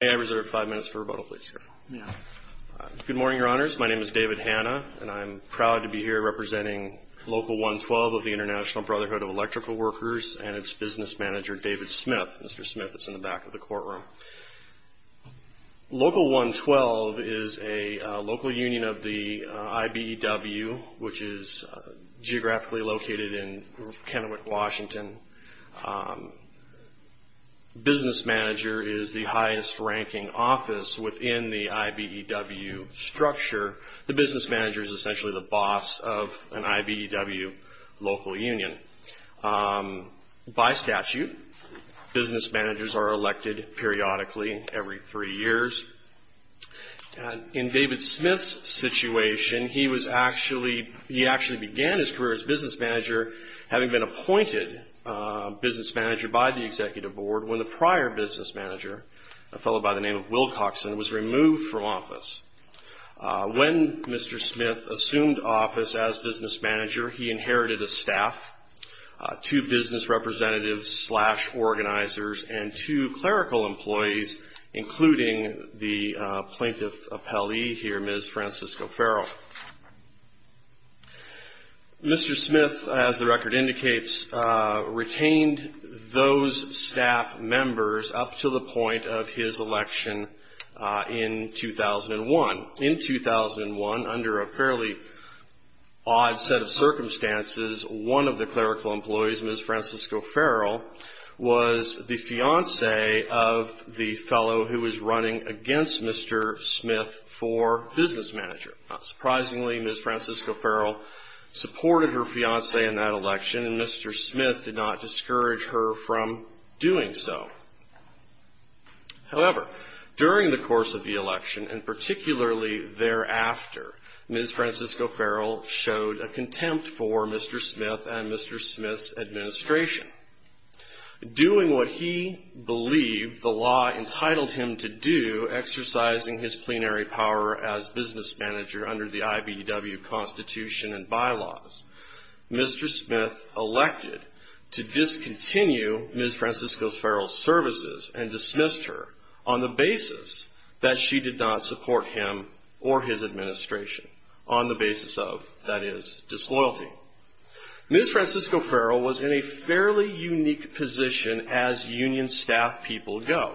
May I reserve five minutes for rebuttal, please, sir? Yeah. Good morning, Your Honors. My name is David Hanna, and I'm proud to be here representing Local 112 of the International Brotherhood of Electrical Workers and its business manager, David Smith. Mr. Smith is in the back of the courtroom. Local 112 is a local union of the IBEW, which is geographically located in Kennewick, Washington. The business manager is the highest-ranking office within the IBEW structure. The business manager is essentially the boss of an IBEW local union. By statute, business managers are elected periodically, every three years. In David Smith's situation, he actually began his career as business manager, having been appointed business manager by the executive board when the prior business manager, a fellow by the name of Wilcoxon, was removed from office. When Mr. Smith assumed office as business manager, he inherited a staff, two business representatives slash organizers, and two clerical employees, including the plaintiff appellee here, Ms. Francisco-Farrell. Mr. Smith, as the record indicates, retained those staff members up to the point of his election in 2001. In 2001, under a fairly odd set of circumstances, one of the clerical employees, Ms. Francisco-Farrell, was the fiancé of the fellow who was running against Mr. Smith for business manager. Not surprisingly, Ms. Francisco-Farrell supported her fiancé in that election, and Mr. Smith did not discourage her from doing so. However, during the course of the election, and particularly thereafter, Ms. Francisco-Farrell showed a contempt for Mr. Smith and Mr. Smith's administration. Doing what he believed the law entitled him to do, exercising his plenary power as business manager under the IBW Constitution and bylaws, Mr. Smith elected to discontinue Ms. Francisco-Farrell's services and dismissed her on the basis that she did not support him or his administration. On the basis of, that is, disloyalty. Ms. Francisco-Farrell was in a fairly unique position as union staff people go.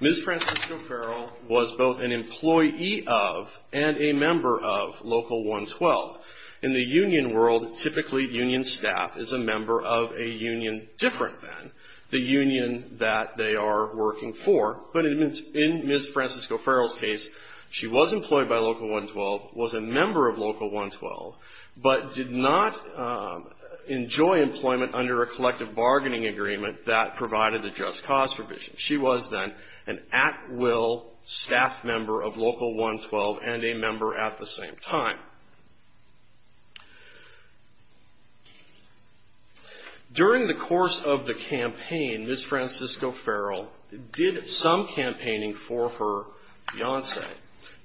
Ms. Francisco-Farrell was both an employee of and a member of Local 112. In the union world, typically union staff is a member of a union different than. The union that they are working for, but in Ms. Francisco-Farrell's case, she was employed by Local 112, was a member of Local 112, but did not enjoy employment under a collective bargaining agreement that provided a just cause provision. She was then an at-will staff member of Local 112 and a member at the same time. During the course of the campaign, Ms. Francisco-Farrell did some campaigning for her fiance,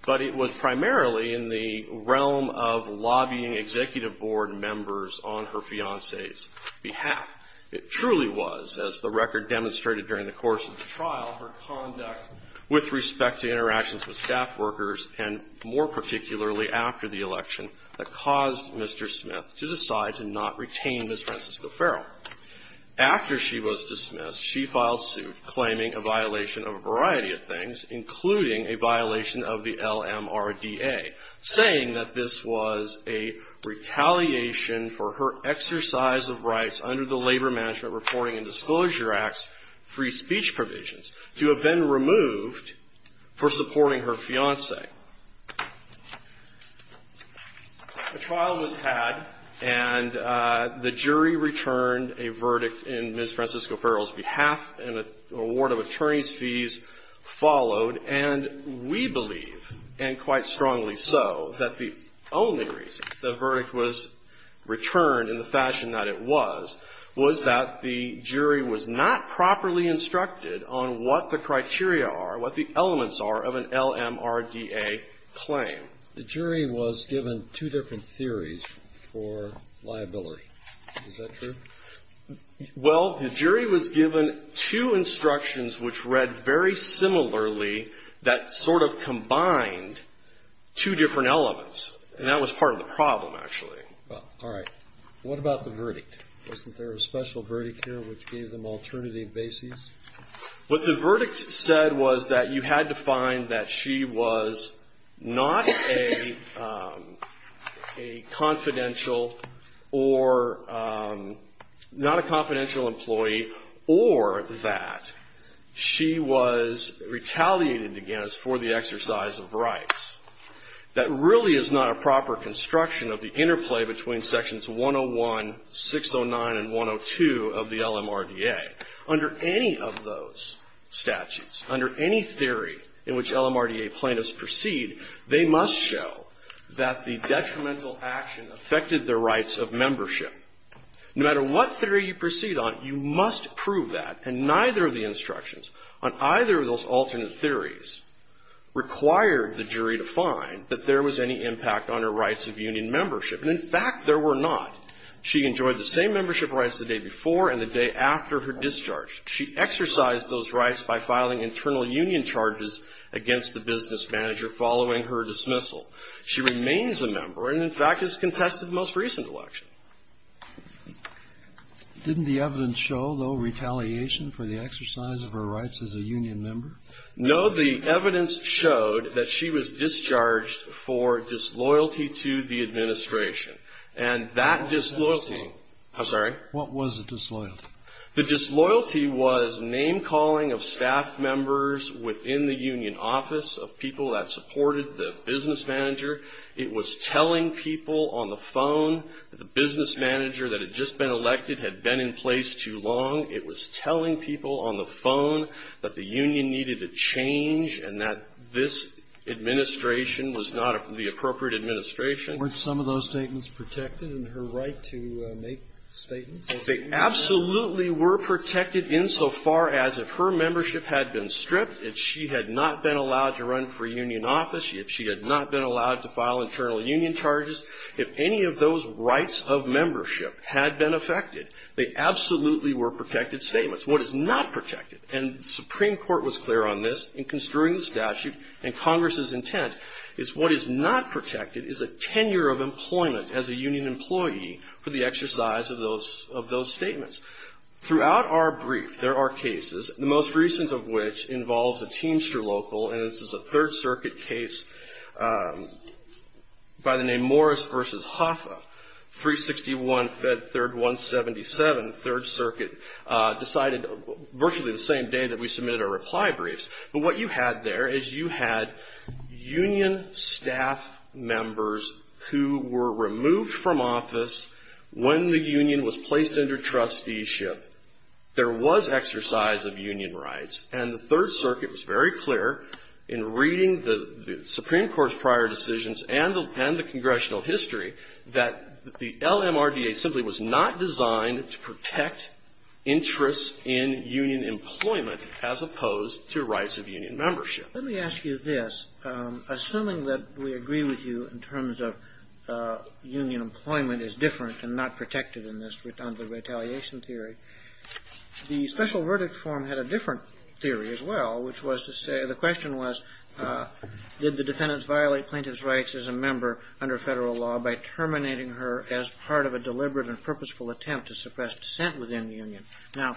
but it was primarily in the realm of lobbying executive board members on her fiance's behalf. It truly was, as the record demonstrated during the course of the trial, her conduct with respect to interactions with staff workers and more particularly after the election that caused Mr. Smith to decide to not retain Ms. Francisco-Farrell. After she was dismissed, she filed suit claiming a violation of a variety of things, including a violation of the LMRDA, saying that this was a retaliation for her exercise of rights under the Labor Management Reporting and Disclosure Act's free speech provisions to have been removed for supporting her fiance. A trial was had, and the jury returned a verdict in Ms. Francisco-Farrell's behalf, and an award of attorney's fees followed. And we believe, and quite strongly so, that the only reason the verdict was returned in the fashion that it was, was that the jury was not properly instructed on what the criteria are, what the elements are of an LMRDA claim. The jury was given two different theories for liability. Is that true? Well, the jury was given two instructions which read very similarly that sort of combined two different elements, and that was part of the problem, actually. All right. What about the verdict? Wasn't there a special verdict here which gave them alternative bases? What the verdict said was that you had to find that she was not a confidential or not a confidential employee, or that she was retaliated against for the exercise of rights. That really is not a proper construction of the interplay between Sections 101, 609, and 102 of the LMRDA. Under any of those statutes, under any theory in which LMRDA plaintiffs proceed, they must show that the detrimental action affected their rights of membership. No matter what theory you proceed on, you must prove that, and neither of the instructions on either of those alternate theories required the jury to find that there was any impact on her rights of union membership. And, in fact, there were not. She enjoyed the same membership rights the day before and the day after her discharge. She exercised those rights by filing internal union charges against the business manager following her dismissal. She remains a member and, in fact, has contested the most recent election. Didn't the evidence show, though, retaliation for the exercise of her rights as a union member? No. The evidence showed that she was discharged for disloyalty to the administration. And that disloyalty – I'm sorry? What was the disloyalty? The disloyalty was name-calling of staff members within the union office, of people that supported the business manager. It was telling people on the phone that the business manager that had just been elected had been in place too long. It was telling people on the phone that the union needed a change and that this administration was not the appropriate administration. Weren't some of those statements protected in her right to make statements? They absolutely were protected insofar as if her membership had been stripped, if she had not been allowed to run for union office, if she had not been allowed to file internal union charges, if any of those rights of membership had been affected. They absolutely were protected statements. What is not protected – and the Supreme Court was clear on this in construing the statute and Congress's intent – is what is not protected is a tenure of employment as a union employee for the exercise of those statements. Throughout our brief, there are cases, the most recent of which involves a Teamster local, and this is a Third Circuit case by the name Morris v. Hoffa, 361 Fed 3rd 177. The Third Circuit decided virtually the same day that we submitted our reply briefs. But what you had there is you had union staff members who were removed from office when the union was placed under trusteeship. There was exercise of union rights, and the Third Circuit was very clear in reading the Supreme Court's prior decisions and the congressional history that the LMRDA simply was not designed to protect interests in union employment as opposed to rights of union membership. Let me ask you this. Assuming that we agree with you in terms of union employment is different and not protected in this retaliation theory, the special verdict form had a different theory as well, which was to say the question was did the defendants violate plaintiff's rights as a member under Federal law by terminating her as part of a deliberate and purposeful attempt to suppress dissent within the union? Now,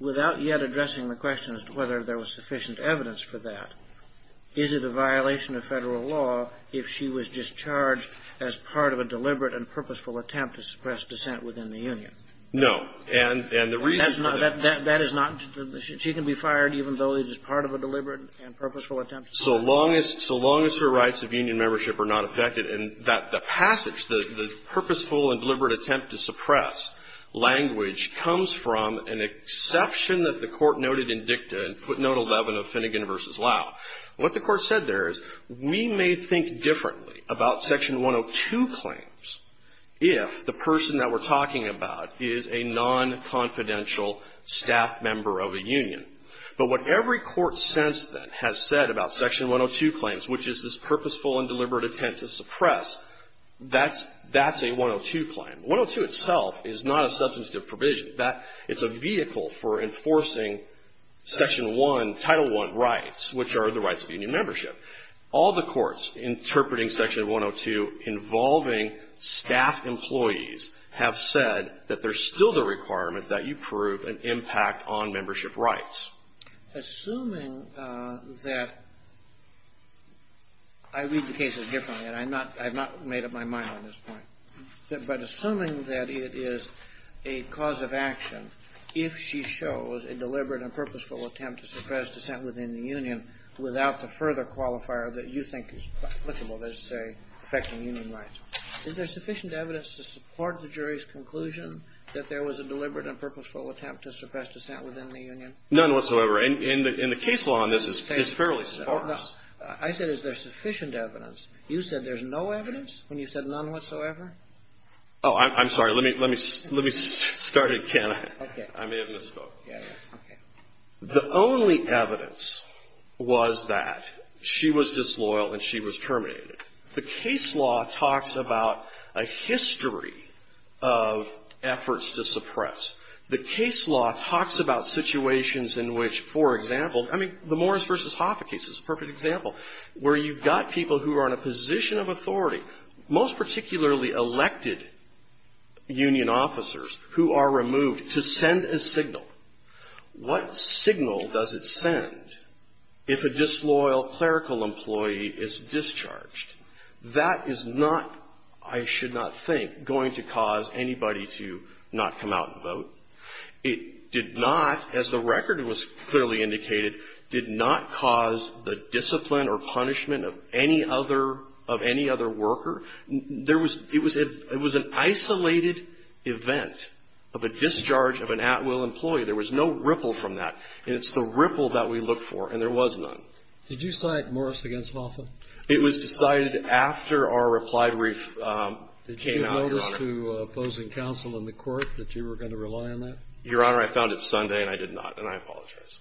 without yet addressing the question as to whether there was sufficient evidence for that, is it a violation of Federal law if she was discharged as part of a deliberate and purposeful attempt to suppress dissent within the union? No. And the reason for that is that she can be fired even though it is part of a deliberate and purposeful attempt to suppress dissent. So long as her rights of union membership are not affected. And that passage, the purposeful and deliberate attempt to suppress language, comes from an exception that the Court noted in Dicta, footnote 11 of Finnegan v. Lau. What the Court said there is we may think differently about Section 102 claims if the person that we're talking about is a non-confidential staff member of a union. But what every court since then has said about Section 102 claims, which is this purposeful and deliberate attempt to suppress, that's a 102 claim. 102 itself is not a substantive provision. It's a vehicle for enforcing Section 1, Title I rights, which are the rights of union membership. All the courts interpreting Section 102 involving staff employees have said that there's still the requirement that you prove an impact on membership rights. Assuming that, I read the cases differently and I'm not, I've not made up my mind on this point. But assuming that it is a cause of action, if she shows a deliberate and purposeful attempt to suppress dissent within the union without the further qualifier that you think is applicable, let's say affecting union rights, is there sufficient evidence to support the jury's conclusion that there was a deliberate and purposeful attempt to suppress dissent within the union? None whatsoever. And the case law on this is fairly sparse. I said is there sufficient evidence. You said there's no evidence when you said none whatsoever? Oh, I'm sorry. Let me start again. Okay. I may have misspoke. Yeah. Okay. The only evidence was that she was disloyal and she was terminated. The case law talks about a history of efforts to suppress. The case law talks about situations in which, for example, I mean, the Morris v. Hoffa case is a perfect example, where you've got people who are in a position of authority, most particularly elected union officers who are removed, to send a signal. What signal does it send if a disloyal clerical employee is discharged? That is not, I should not think, going to cause anybody to not come out and vote. It did not, as the record was clearly indicated, did not cause the discipline or punishment of any other worker. It was an isolated event of a discharge of an at-will employee. There was no ripple from that. And it's the ripple that we look for. And there was none. Did you cite Morris v. Hoffa? It was decided after our replied brief came out, Your Honor. Did you notice to opposing counsel in the court that you were going to rely on that? Your Honor, I found it Sunday and I did not. And I apologize.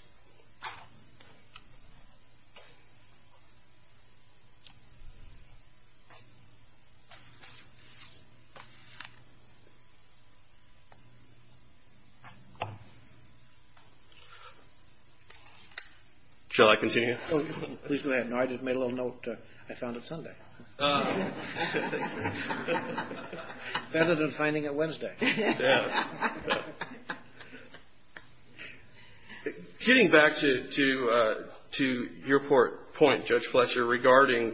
Shall I continue? Please go ahead. I just made a little note. I found it Sunday. It's better than finding it Wednesday. Getting back to your point, Judge Fletcher, regarding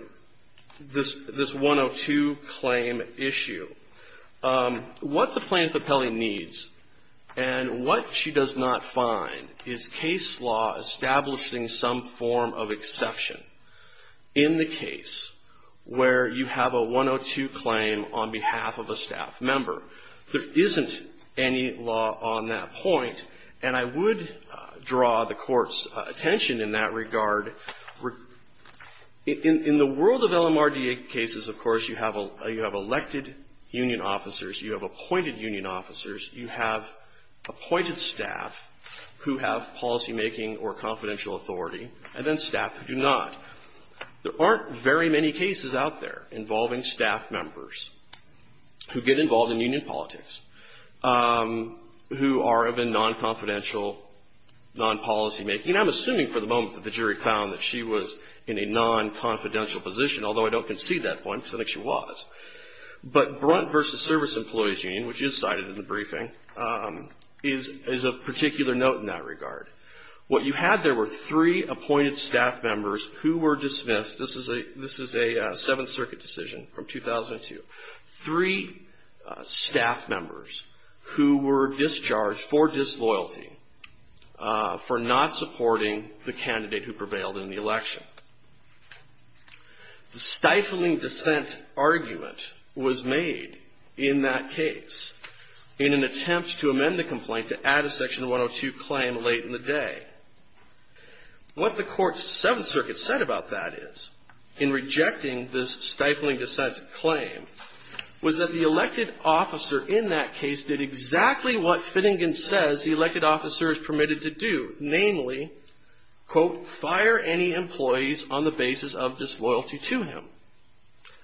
this 102 claim issue, what the plaintiff appellee needs and what she does not find is case law establishing some form of exception in the case where you have a 102 claim on behalf of a staff member. There isn't any law on that point. And I would draw the Court's attention in that regard. In the world of LMRDA cases, of course, you have elected union officers, you have appointed union officers, you have appointed staff who have policymaking or confidential authority, and then staff who do not. There aren't very many cases out there involving staff members who get involved in union politics who are of a non-confidential, non-policymaking. I'm assuming for the moment that the jury found that she was in a non-confidential position, although I don't concede that point because I think she was. But Brunt v. Service Employees Union, which is cited in the briefing, is a particular note in that regard. What you had there were three appointed staff members who were dismissed. This is a Seventh Circuit decision from 2002. Three staff members who were discharged for disloyalty, for not supporting the candidate who prevailed in the election. The stifling dissent argument was made in that case in an attempt to amend the complaint to add a Section 102 claim late in the day. What the Court's Seventh Circuit said about that is, in rejecting this stifling dissent claim, was that the elected officer in that case did exactly what Finnegan says the elected officer is permitted to do, namely, quote, fire any employees on the basis of disloyalty to him.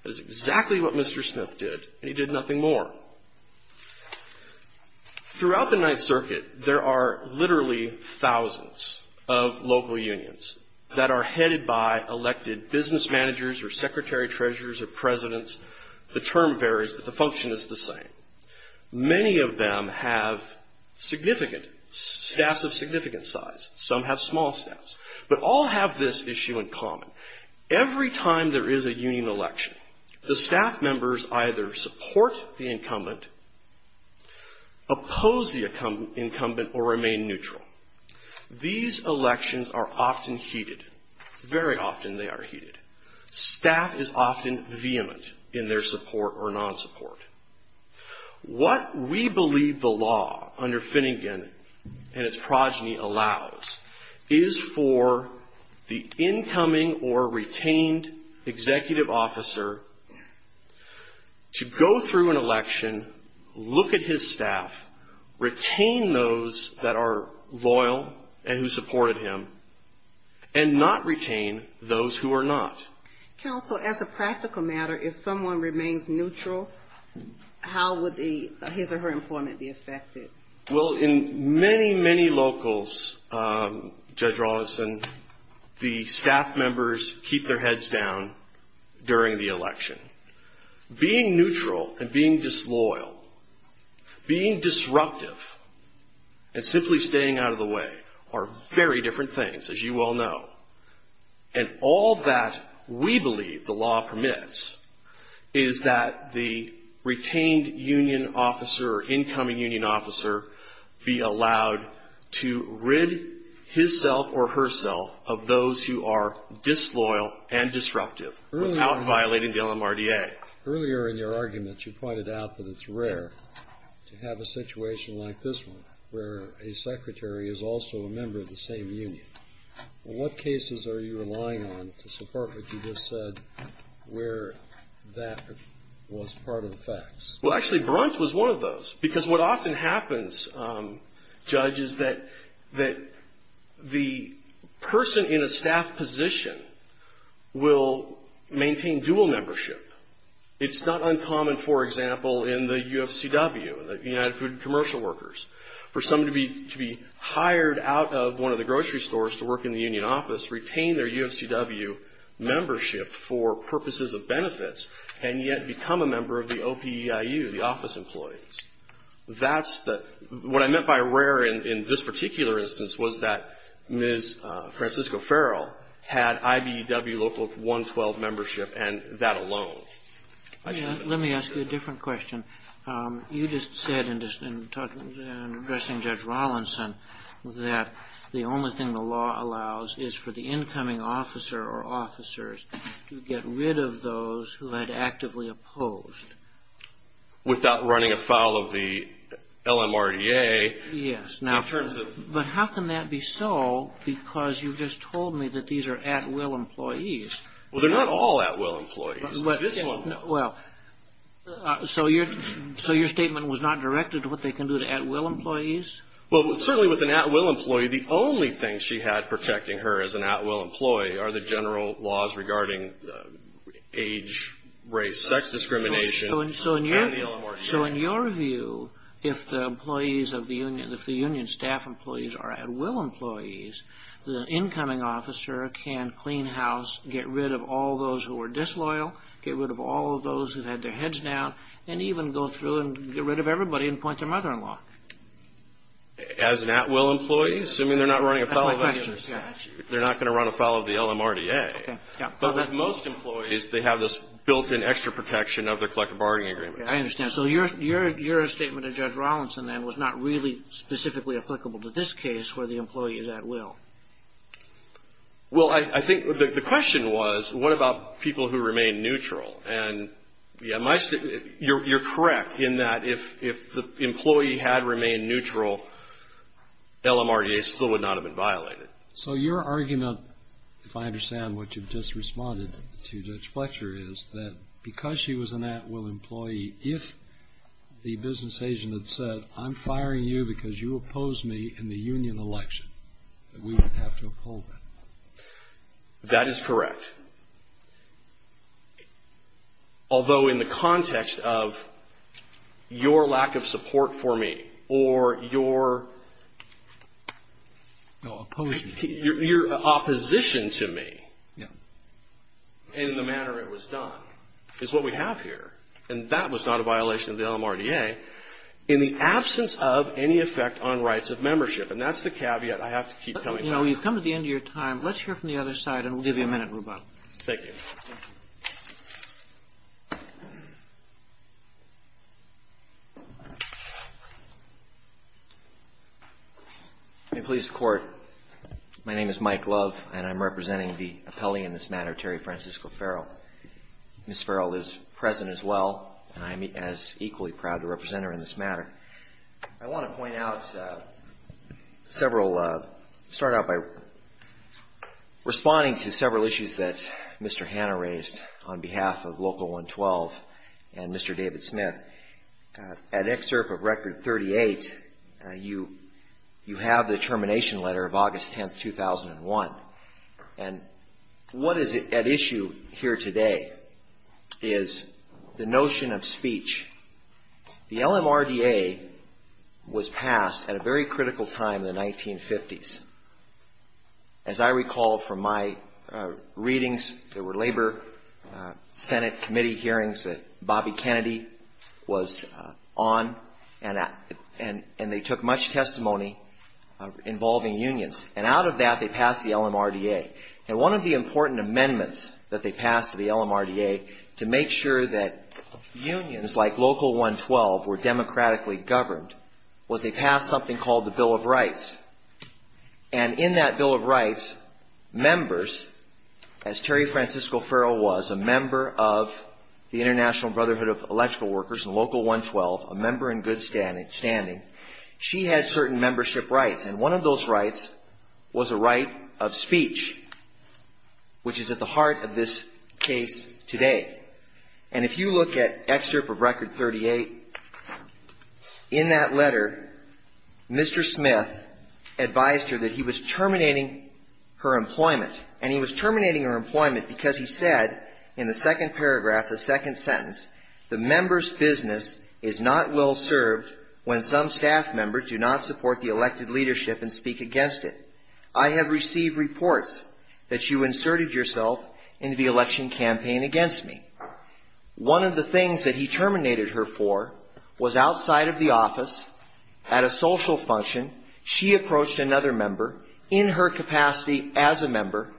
That is exactly what Mr. Smith did, and he did nothing more. Throughout the Ninth Circuit, there are literally thousands of local unions that are headed by elected business managers or secretary treasurers or presidents. The term varies, but the function is the same. Many of them have significant, staffs of significant size. Some have small staffs. But all have this issue in common. Every time there is a union election, the staff members either support the incumbent, oppose the incumbent, or remain neutral. These elections are often heated. Very often they are heated. Staff is often vehement in their support or non-support. What we believe the law under Finnegan and its progeny allows is for the incoming or retained executive officer to go through an election, look at his staff, retain those that are loyal and who supported him, and not retain those who are not. Counsel, as a practical matter, if someone remains neutral, how would his or her employment be affected? Well, in many, many locals, Judge Rollison, the staff members keep their heads down during the election. Being neutral and being disloyal, being disruptive and simply staying out of the way are very different things, as you all know. And all that we believe the law permits is that the retained union officer or incoming union officer be allowed to rid himself or herself of those who are disloyal and disruptive without violating the LMRDA. Earlier in your argument, you pointed out that it's rare to have a situation like this one, where a secretary is also a member of the same union. In what cases are you relying on to support what you just said, where that was part of the facts? Well, actually, Brunt was one of those, because what often happens, Judge, is that the person in a staff position will maintain dual membership. It's not uncommon, for example, in the UFCW, the United Food and Commercial Workers, for someone to be hired out of one of the grocery stores to work in the union office, retain their UFCW membership for purposes of benefits and yet become a member of the OPEIU, the office employees. What I meant by rare in this particular instance was that Ms. Francisco Farrell had IBEW Local 112 membership and that alone. Let me ask you a different question. You just said in addressing Judge Rawlinson that the only thing the law allows is for the incoming officer or officers to get rid of those who had actively opposed. Without running afoul of the LMRDA. But how can that be so, because you just told me that these are at-will employees? Well, they're not all at-will employees. So your statement was not directed to what they can do to at-will employees? Well, certainly with an at-will employee, the only thing she had protecting her as an at-will employee are the general laws regarding age, race, sex discrimination, and the LMRDA. So in your view, if the union staff employees are at-will employees, the incoming officer can clean house, get rid of all those who are disloyal, get rid of all of those who have had their heads down, and even go through and get rid of everybody and appoint their mother-in-law. As an at-will employee, assuming they're not running afoul of the statute. They're not going to run afoul of the LMRDA. But with most employees, they have this built-in extra protection of the collective bargaining agreement. I understand. So your statement of Judge Rawlinson then was not really specifically applicable to this case where the employee is at-will? Well, I think the question was, what about people who remain neutral? And you're correct in that if the employee had remained neutral, LMRDA still would not have been violated. So your argument, if I understand what you've just responded to, Judge Fletcher, is that because she was an at-will employee, if the business agent had said, I'm firing you because you opposed me in the union election, that we would have to uphold that? That is correct. Although in the context of your lack of support for me or your ---- No, opposed me. Your opposition to me in the manner it was done is what we have here. And that was not a violation of the LMRDA in the absence of any effect on rights of membership. And that's the caveat I have to keep coming back to. You know, we've come to the end of your time. Let's hear from the other side, and we'll give you a minute, Rubato. Thank you. May it please the Court. My name is Mike Love, and I'm representing the appellee in this matter, Terry Francisco Farrell. Ms. Farrell is present as well, and I'm equally proud to represent her in this matter. I want to point out several ---- start out by responding to several issues that Mr. Hanna raised on behalf of Local 112 and Mr. David Smith. An excerpt of Record 38, you have the termination letter of August 10, 2001. And what is at issue here today is the notion of speech. The LMRDA was passed at a very critical time in the 1950s. As I recall from my readings, there were Labor Senate committee hearings that Bobby Kennedy was on, and they took much testimony involving unions. And out of that, they passed the LMRDA. And one of the important amendments that they passed to the LMRDA to make sure that unions like Local 112 were And in that Bill of Rights, members, as Terry Francisco Farrell was, a member of the International Brotherhood of Electrical Workers and Local 112, a member in good standing, she had certain membership rights. And one of those rights was a right of speech, which is at the heart of this case today. And if you look at excerpt of Record 38, in that letter, Mr. Smith advised her that he was terminating her employment. And he was terminating her employment because he said in the second paragraph, the second sentence, the member's business is not well served when some staff members do not support the elected leadership and speak against it. I have received reports that you inserted yourself into the election campaign against me. One of the things that he terminated her for was outside of the office, at a social function, she approached another member in her capacity as a member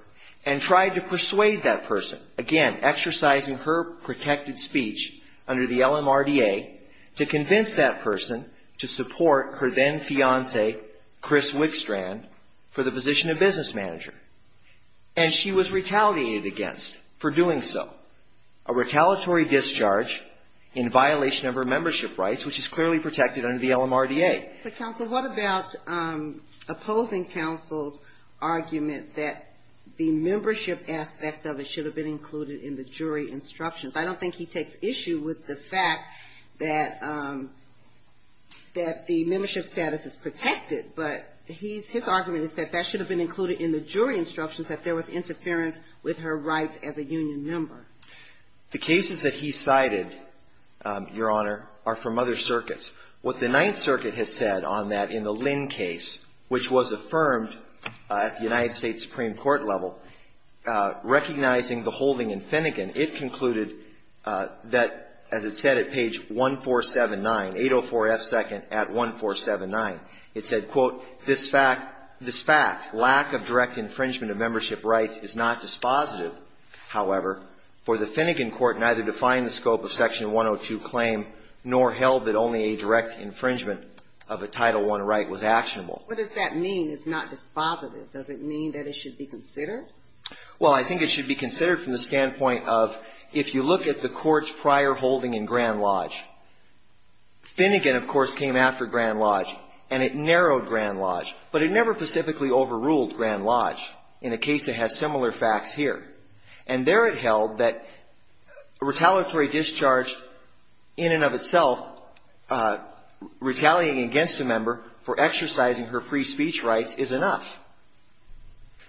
and tried to persuade that person, again, exercising her protected speech under the LMRDA, to convince that person to support her then-fiancee, Chris Wickstrand, for the position of business manager. And she was retaliated against for doing so. A retaliatory discharge in violation of her membership rights, which is clearly protected under the LMRDA. But counsel, what about opposing counsel's argument that the membership aspect of it should have been included in the jury instructions? I don't think he takes issue with the fact that the membership status is protected, but his argument is that that should have been included in the jury instructions, that there was interference with her rights as a union member. The cases that he cited, Your Honor, are from other circuits. What the Ninth Circuit has said on that in the Lynn case, which was affirmed at the United States Supreme Court level, recognizing the holding in Finnegan, it concluded that, as it said at page 1479, 804 F. 2nd at 1479, it said, quote, This fact, this fact, lack of direct infringement of membership rights is not dispositive, however, for the Finnegan court neither defined the scope of Section 102 claim nor held that only a direct infringement of a Title I right was actionable. What does that mean, it's not dispositive? Does it mean that it should be considered? Well, I think it should be considered from the standpoint of, if you look at the court's prior holding in Grand Lodge, Finnegan, of course, came after Grand Lodge, and it narrowed Grand Lodge, but it never specifically overruled Grand Lodge in a case that has similar facts here. And there it held that retaliatory discharge in and of itself retaliating against a member for exercising her free speech rights is enough.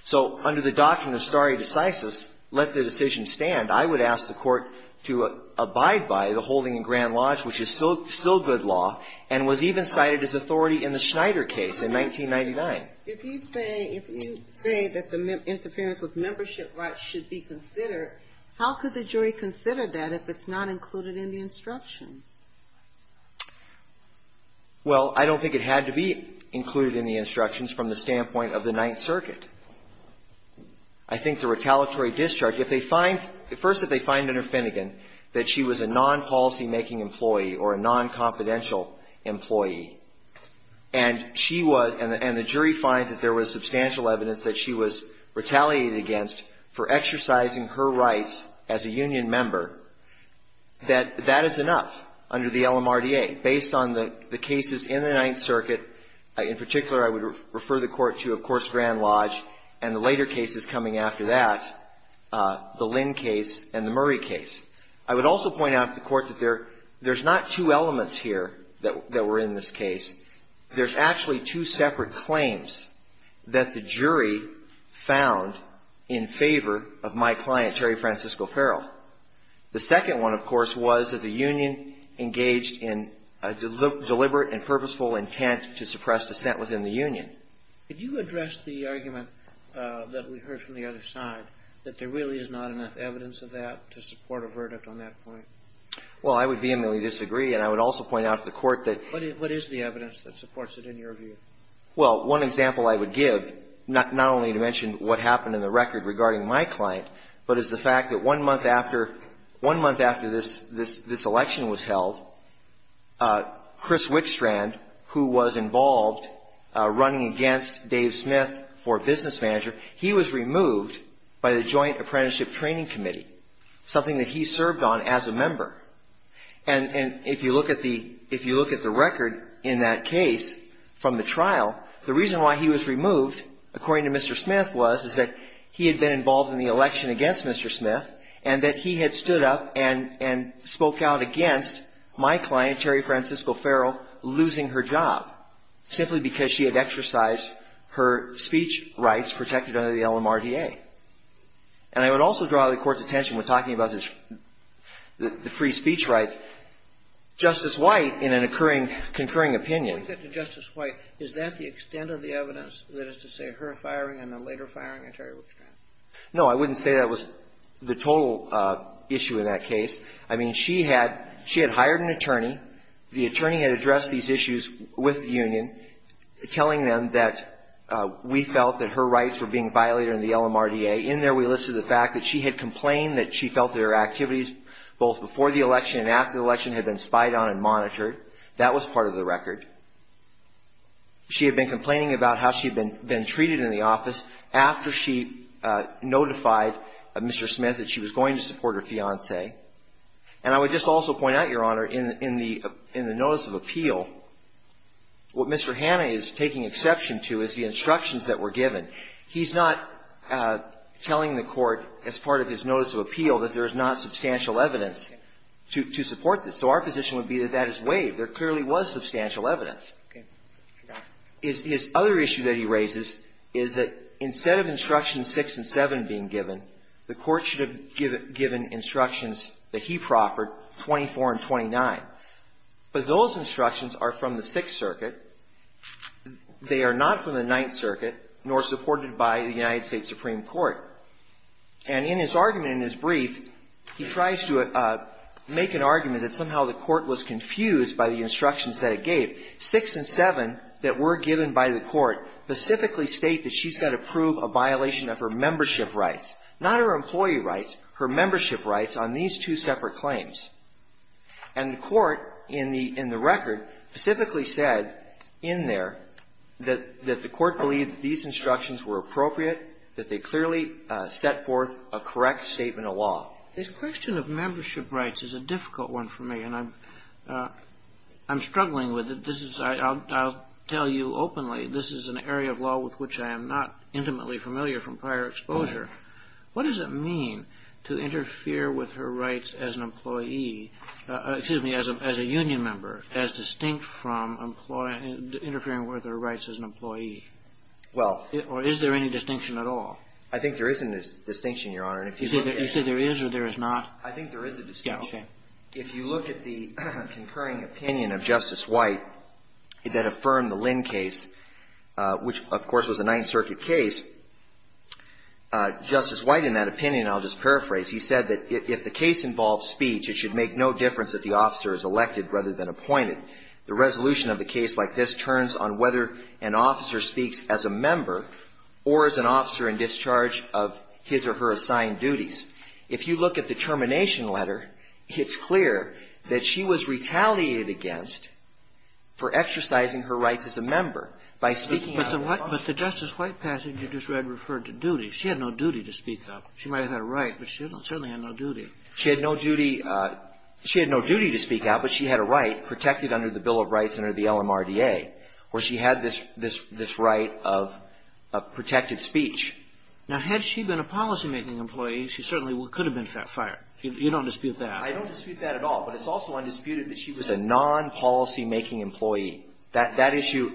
So under the doctrine of stare decisis, let the decision stand. I would ask the court to abide by the holding in Grand Lodge, which is still good law, and was even cited as authority in the Schneider case in 1999. If you say, if you say that the interference with membership rights should be considered, how could the jury consider that if it's not included in the instructions? Well, I don't think it had to be included in the instructions from the standpoint of the Ninth Circuit. I think the retaliatory discharge, if they find, first, if they find under Finnegan that she was a non-policymaking employee or a non-confidential employee and she was and the jury finds that there was substantial evidence that she was retaliated against for exercising her rights as a union member, that that is enough under the LMRDA, based on the cases in the Ninth Circuit. In particular, I would refer the Court to, of course, Grand Lodge and the later cases coming after that, the Lynn case and the Murray case. I would also point out to the Court that there's not two elements here that were in this case. There's actually two separate claims that the jury found in favor of my client, Terry Francisco Farrell. The second one, of course, was that the union engaged in a deliberate and purposeful intent to suppress dissent within the union. Could you address the argument that we heard from the other side, that there really is not enough evidence of that to support a verdict on that point? Well, I would vehemently disagree, and I would also point out to the Court that there's not enough evidence of that to support a verdict on that point. What is the evidence that supports it in your view? Well, one example I would give, not only to mention what happened in the record regarding my client, but is the fact that one month after this election was held, Chris Wickstrand, who was involved running against Dave Smith for business manager, he was removed by the Joint Apprenticeship Training Committee, something that he served on as a member. And if you look at the record in that case from the trial, the reason why he was removed, according to Mr. Smith, was that he had been involved in the election against Mr. Smith, and that he had stood up and spoke out against my client, Terry Francisco Farrell, losing her job simply because she had exercised her speech rights protected under the LMRDA. And I would also draw the Court's attention when talking about the free speech rights, Justice White, in an occurring, concurring opinion. Justice White, is that the extent of the evidence that is to say her firing and the later firing of Terry Wickstrand? No, I wouldn't say that was the total issue in that case. I mean, she had hired an attorney. The attorney had addressed these issues with the union, telling them that we felt that her rights were being violated in the LMRDA. In there, we listed the fact that she had complained that she felt that her activities, both before the election and after the election, had been spied on and monitored. That was part of the record. She had been complaining about how she had been treated in the office after she notified Mr. Smith that she was going to support her fiancé. And I would just also point out, Your Honor, in the Notice of Appeal, what Mr. Hanna is taking exception to is the instructions that were given. He's not telling the Court, as part of his Notice of Appeal, that there is not substantial evidence to support this. So our position would be that that is waived. There clearly was substantial evidence. His other issue that he raises is that instead of Instructions 6 and 7 being given, the Court should have given instructions that he proffered, 24 and 29. But those instructions are from the Sixth Circuit. They are not from the Ninth Circuit, nor supported by the United States Supreme Court. And in his argument, in his brief, he tries to make an argument that somehow the Court was confused by the instructions that it gave. 6 and 7 that were given by the Court specifically state that she's got to prove a violation of her membership rights, not her employee rights, her membership rights on these two separate claims. And the Court, in the record, specifically said in there that the Court believed that these instructions were appropriate, that they clearly set forth a correct statement of law. This question of membership rights is a difficult one for me, and I'm struggling with it. This is, I'll tell you openly, this is an area of law with which I am not intimately familiar from prior exposure. What does it mean to interfere with her rights as an employee, excuse me, as a union member, as distinct from interfering with her rights as an employee? Or is there any distinction at all? I think there is a distinction, Your Honor. You say there is or there is not? I think there is a distinction. Okay. If you look at the concurring opinion of Justice White that affirmed the Lynn case, which, of course, was a Ninth Circuit case, Justice White, in that opinion, I'll just paraphrase, he said that if the case involves speech, it should make no difference if the officer is elected rather than appointed. The resolution of a case like this turns on whether an officer speaks as a member or as an officer in discharge of his or her assigned duties. If you look at the termination letter, it's clear that she was retaliated against for exercising her rights as a member by speaking out. But the Justice White passage you just read referred to duties. She had no duty to speak out. She might have had a right, but she certainly had no duty. She had no duty to speak out, but she had a right protected under the Bill of Rights under the LMRDA, where she had this right of protected speech. Now, had she been a policymaking employee, she certainly could have been fired. You don't dispute that. I don't dispute that at all. But it's also undisputed that she was a non-policymaking employee. That issue,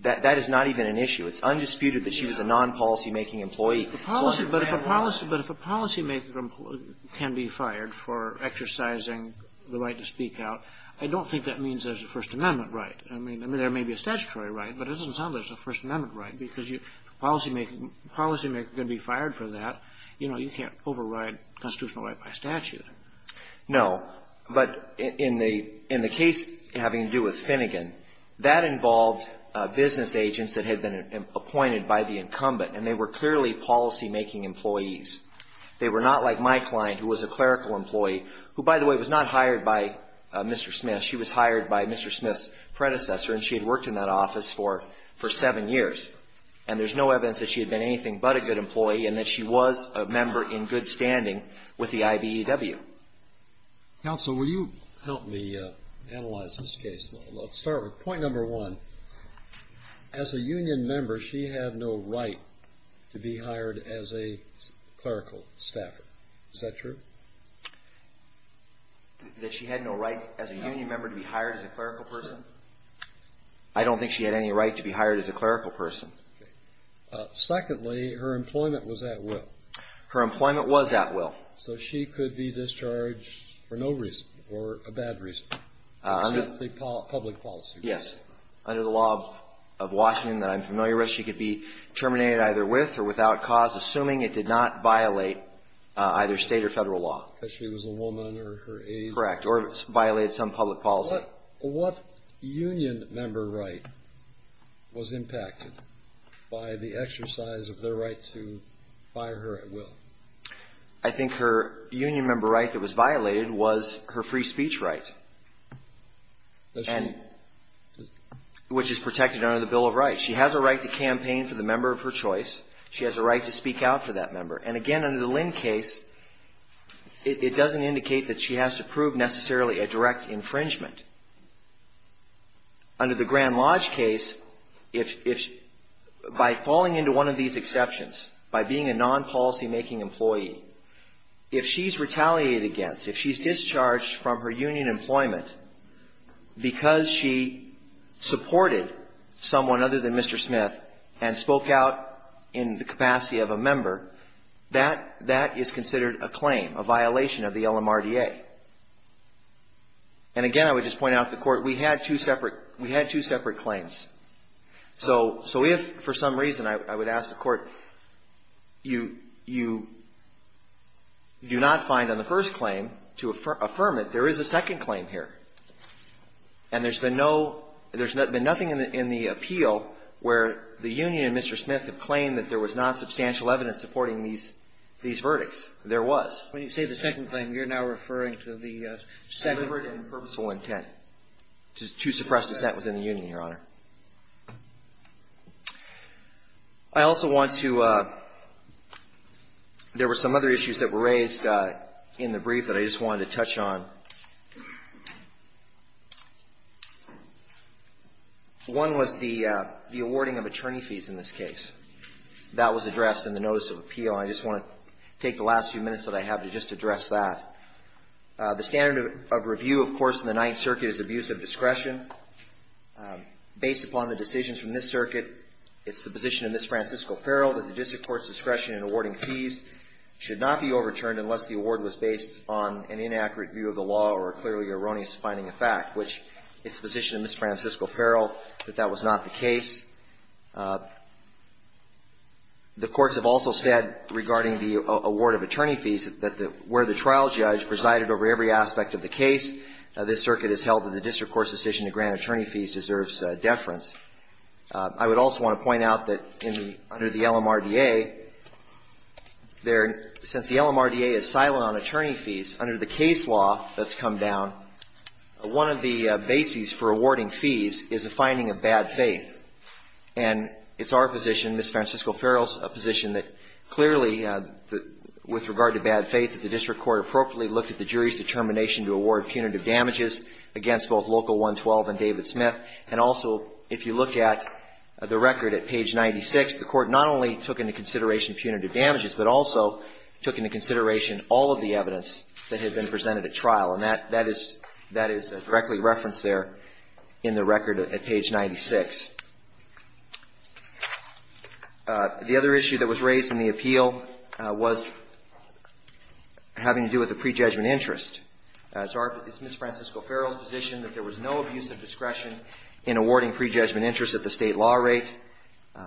that is not even an issue. It's undisputed that she was a non-policymaking employee. So under that law ---- Kagan. But if a policymaker can be fired for exercising the right to speak out, I don't think that means there's a First Amendment right. I mean, there may be a statutory right, but it doesn't sound like there's a First Amendment right, because if a policymaker can be fired for that, you know, you can't override constitutional right by statute. No. But in the case having to do with Finnegan, that involved business agents that had been appointed by the incumbent, and they were clearly policymaking employees. They were not like my client, who was a clerical employee, who, by the way, was not hired by Mr. Smith. She was hired by Mr. Smith's predecessor, and she had worked in that office for seven years. And there's no evidence that she had been anything but a good employee and that she was a member in good standing with the IBEW. Counsel, will you help me analyze this case? Let's start with point number one. As a union member, she had no right to be hired as a clerical staffer. Is that true? That she had no right as a union member to be hired as a clerical person? I don't think she had any right to be hired as a clerical person. Okay. Secondly, her employment was at will. Her employment was at will. So she could be discharged for no reason or a bad reason, except the public policy. Yes. Under the law of Washington that I'm familiar with, she could be terminated either with or without cause, assuming it did not violate either State or Federal law. Because she was a woman or her age. Correct. Or violated some public policy. What union member right was impacted by the exercise of their right to fire her at will? I think her union member right that was violated was her free speech right. That's true. Which is protected under the Bill of Rights. She has a right to campaign for the member of her choice. She has a right to speak out for that member. And, again, under the Lynn case, it doesn't indicate that she has to prove necessarily a direct infringement. Under the Grand Lodge case, if by falling into one of these exceptions, by being a non-policymaking employee, if she's retaliated against, if she's discharged from her union employment because she supported someone other than Mr. Smith and spoke out in the capacity of a member, that is considered a claim, a violation of the LMRDA. And, again, I would just point out to the Court, we had two separate claims. So if for some reason, I would ask the Court, you do not find on the first claim to affirm it, there is a second claim here. And there's been no – there's been nothing in the appeal where the union and Mr. Smith have claimed that there was non-substantial evidence supporting these – these verdicts. There was. When you say the second claim, you're now referring to the second? Deliberate and purposeful intent to suppress dissent within the union, Your Honor. I also want to – there were some other issues that were raised in the brief that I just wanted to touch on. One was the awarding of attorney fees in this case. That was addressed in the notice of appeal. I just want to take the last few minutes that I have to just address that. The standard of review, of course, in the Ninth Circuit is abuse of discretion. Based upon the decisions from this circuit, it's the position of Ms. Francisco Farrell that the district court's discretion in awarding fees should not be overturned unless the award was based on an inaccurate view of the law or a clearly erroneous finding of fact, which it's the position of Ms. Francisco Farrell that that was not the case. The courts have also said regarding the award of attorney fees that where the trial judge presided over every aspect of the case, this circuit has held that the district court's decision to grant attorney fees deserves deference. I would also want to point out that in the – under the LMRDA, there – since the LMRDA is silent on attorney fees, under the case law that's come down, one of the bases for awarding fees is a finding of bad faith. And it's our position, Ms. Francisco Farrell's position, that clearly with regard to bad faith that the district court appropriately looked at the jury's determination to award punitive damages against both Local 112 and David Smith. And also, if you look at the record at page 96, the court not only took into consideration punitive damages, but also took into consideration all of the evidence that had been presented at trial. And that is – that is directly referenced there in the record at page 96. The other issue that was raised in the appeal was having to do with the prejudgment interest. It's Ms. Francisco Farrell's position that there was no abuse of discretion in awarding prejudgment interest at the State law rate.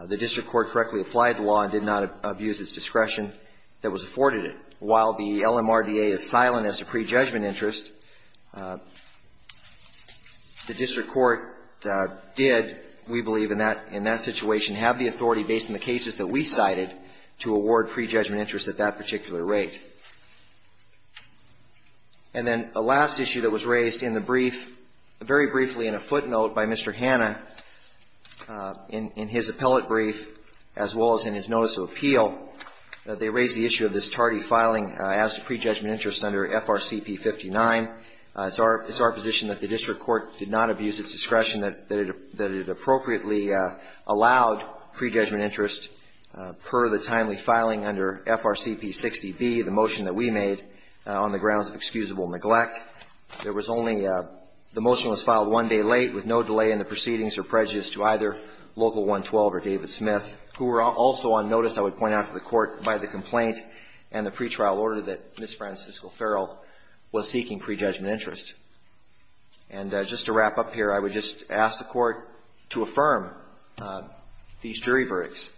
The district court correctly applied the law and did not abuse its discretion that was afforded it. While the LMRDA is silent as to prejudgment interest, the district court did, we believe, in that – in that situation have the authority, based on the cases that we cited, to award prejudgment interest at that particular rate. And then a last issue that was raised in the brief, very briefly in a footnote by Mr. Hanna in his appellate brief, as well as in his notice of appeal, they raised the issue of this tardy filing as to prejudgment interest under FRCP59. It's our – it's our position that the district court did not abuse its discretion, that it – that it appropriately allowed prejudgment interest per the timely filing under FRCP60B, the motion that we made on the grounds of excusable neglect. There was only – the motion was filed one day late with no delay in the proceedings or prejudice to either Local 112 or David Smith, who were also on notice, I would point out to the Court, by the complaint and the pretrial order that Ms. Francisco Farrell was seeking prejudgment interest. And just to wrap up here, I would just ask the Court to affirm these jury verdicts.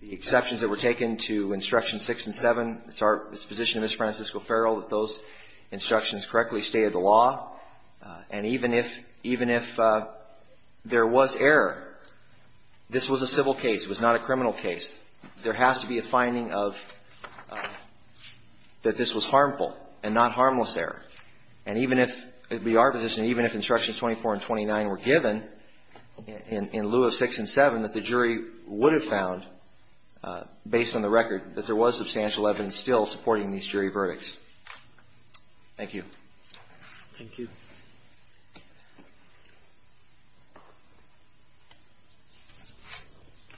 The exceptions that were taken to Instructions 6 and 7, it's our – it's the position of Ms. Francisco Farrell that those instructions correctly stated the law. And even if – even if there was error, this was a civil case. It was not a criminal case. There has to be a finding of – that this was harmful and not harmless error. And even if – it would be our position, even if Instructions 24 and 29 were given, in lieu of 6 and 7, that the jury would have found, based on the record, that there was substantial evidence still supporting these jury verdicts. Thank you. Thank you.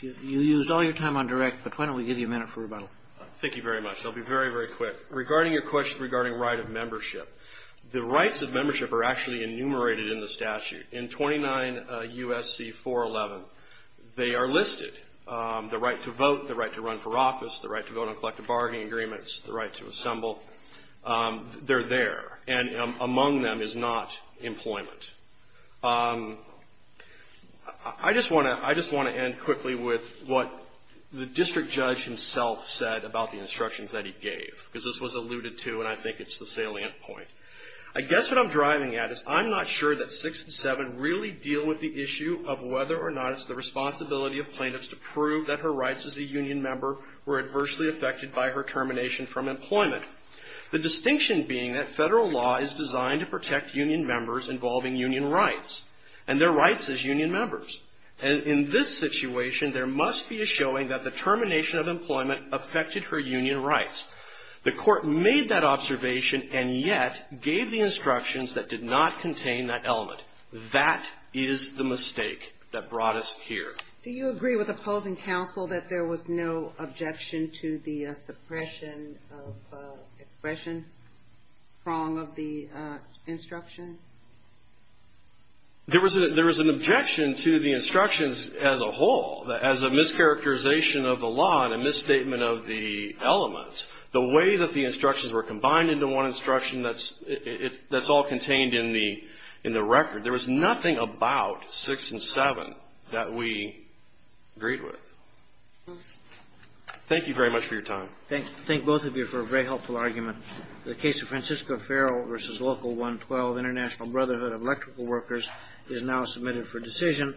You used all your time on direct, but why don't we give you a minute for rebuttal. Thank you very much. I'll be very, very quick. Regarding your question regarding right of membership, the rights of membership are actually enumerated in the statute. In 29 U.S.C. 411, they are listed, the right to vote, the right to run for office, the right to vote on collective bargaining agreements, the right to assemble. They're there. And among them is not employment. I just want to end quickly with what the district judge himself said about the instructions that he gave, because this was alluded to, and I think it's the salient point. I guess what I'm driving at is I'm not sure that 6 and 7 really deal with the issue of whether or not it's the responsibility of plaintiffs to prove that her rights as a union member were adversely affected by her termination from employment. The distinction being that federal law is designed to protect union members involving union rights, and their rights as union members. In this situation, there must be a showing that the termination of employment affected her union rights. The court made that observation and yet gave the instructions that did not contain that element. That is the mistake that brought us here. Do you agree with opposing counsel that there was no objection to the suppression of expression prong of the instruction? There was an objection to the instructions as a whole, as a mischaracterization of the law and a misstatement of the elements. The way that the instructions were combined into one instruction, that's all contained in the record. There was nothing about 6 and 7 that we agreed with. Thank you very much for your time. Thank both of you for a very helpful argument. The case of Francisco Farrell v. Local 112, International Brotherhood of Electrical Workers, is now submitted for decision.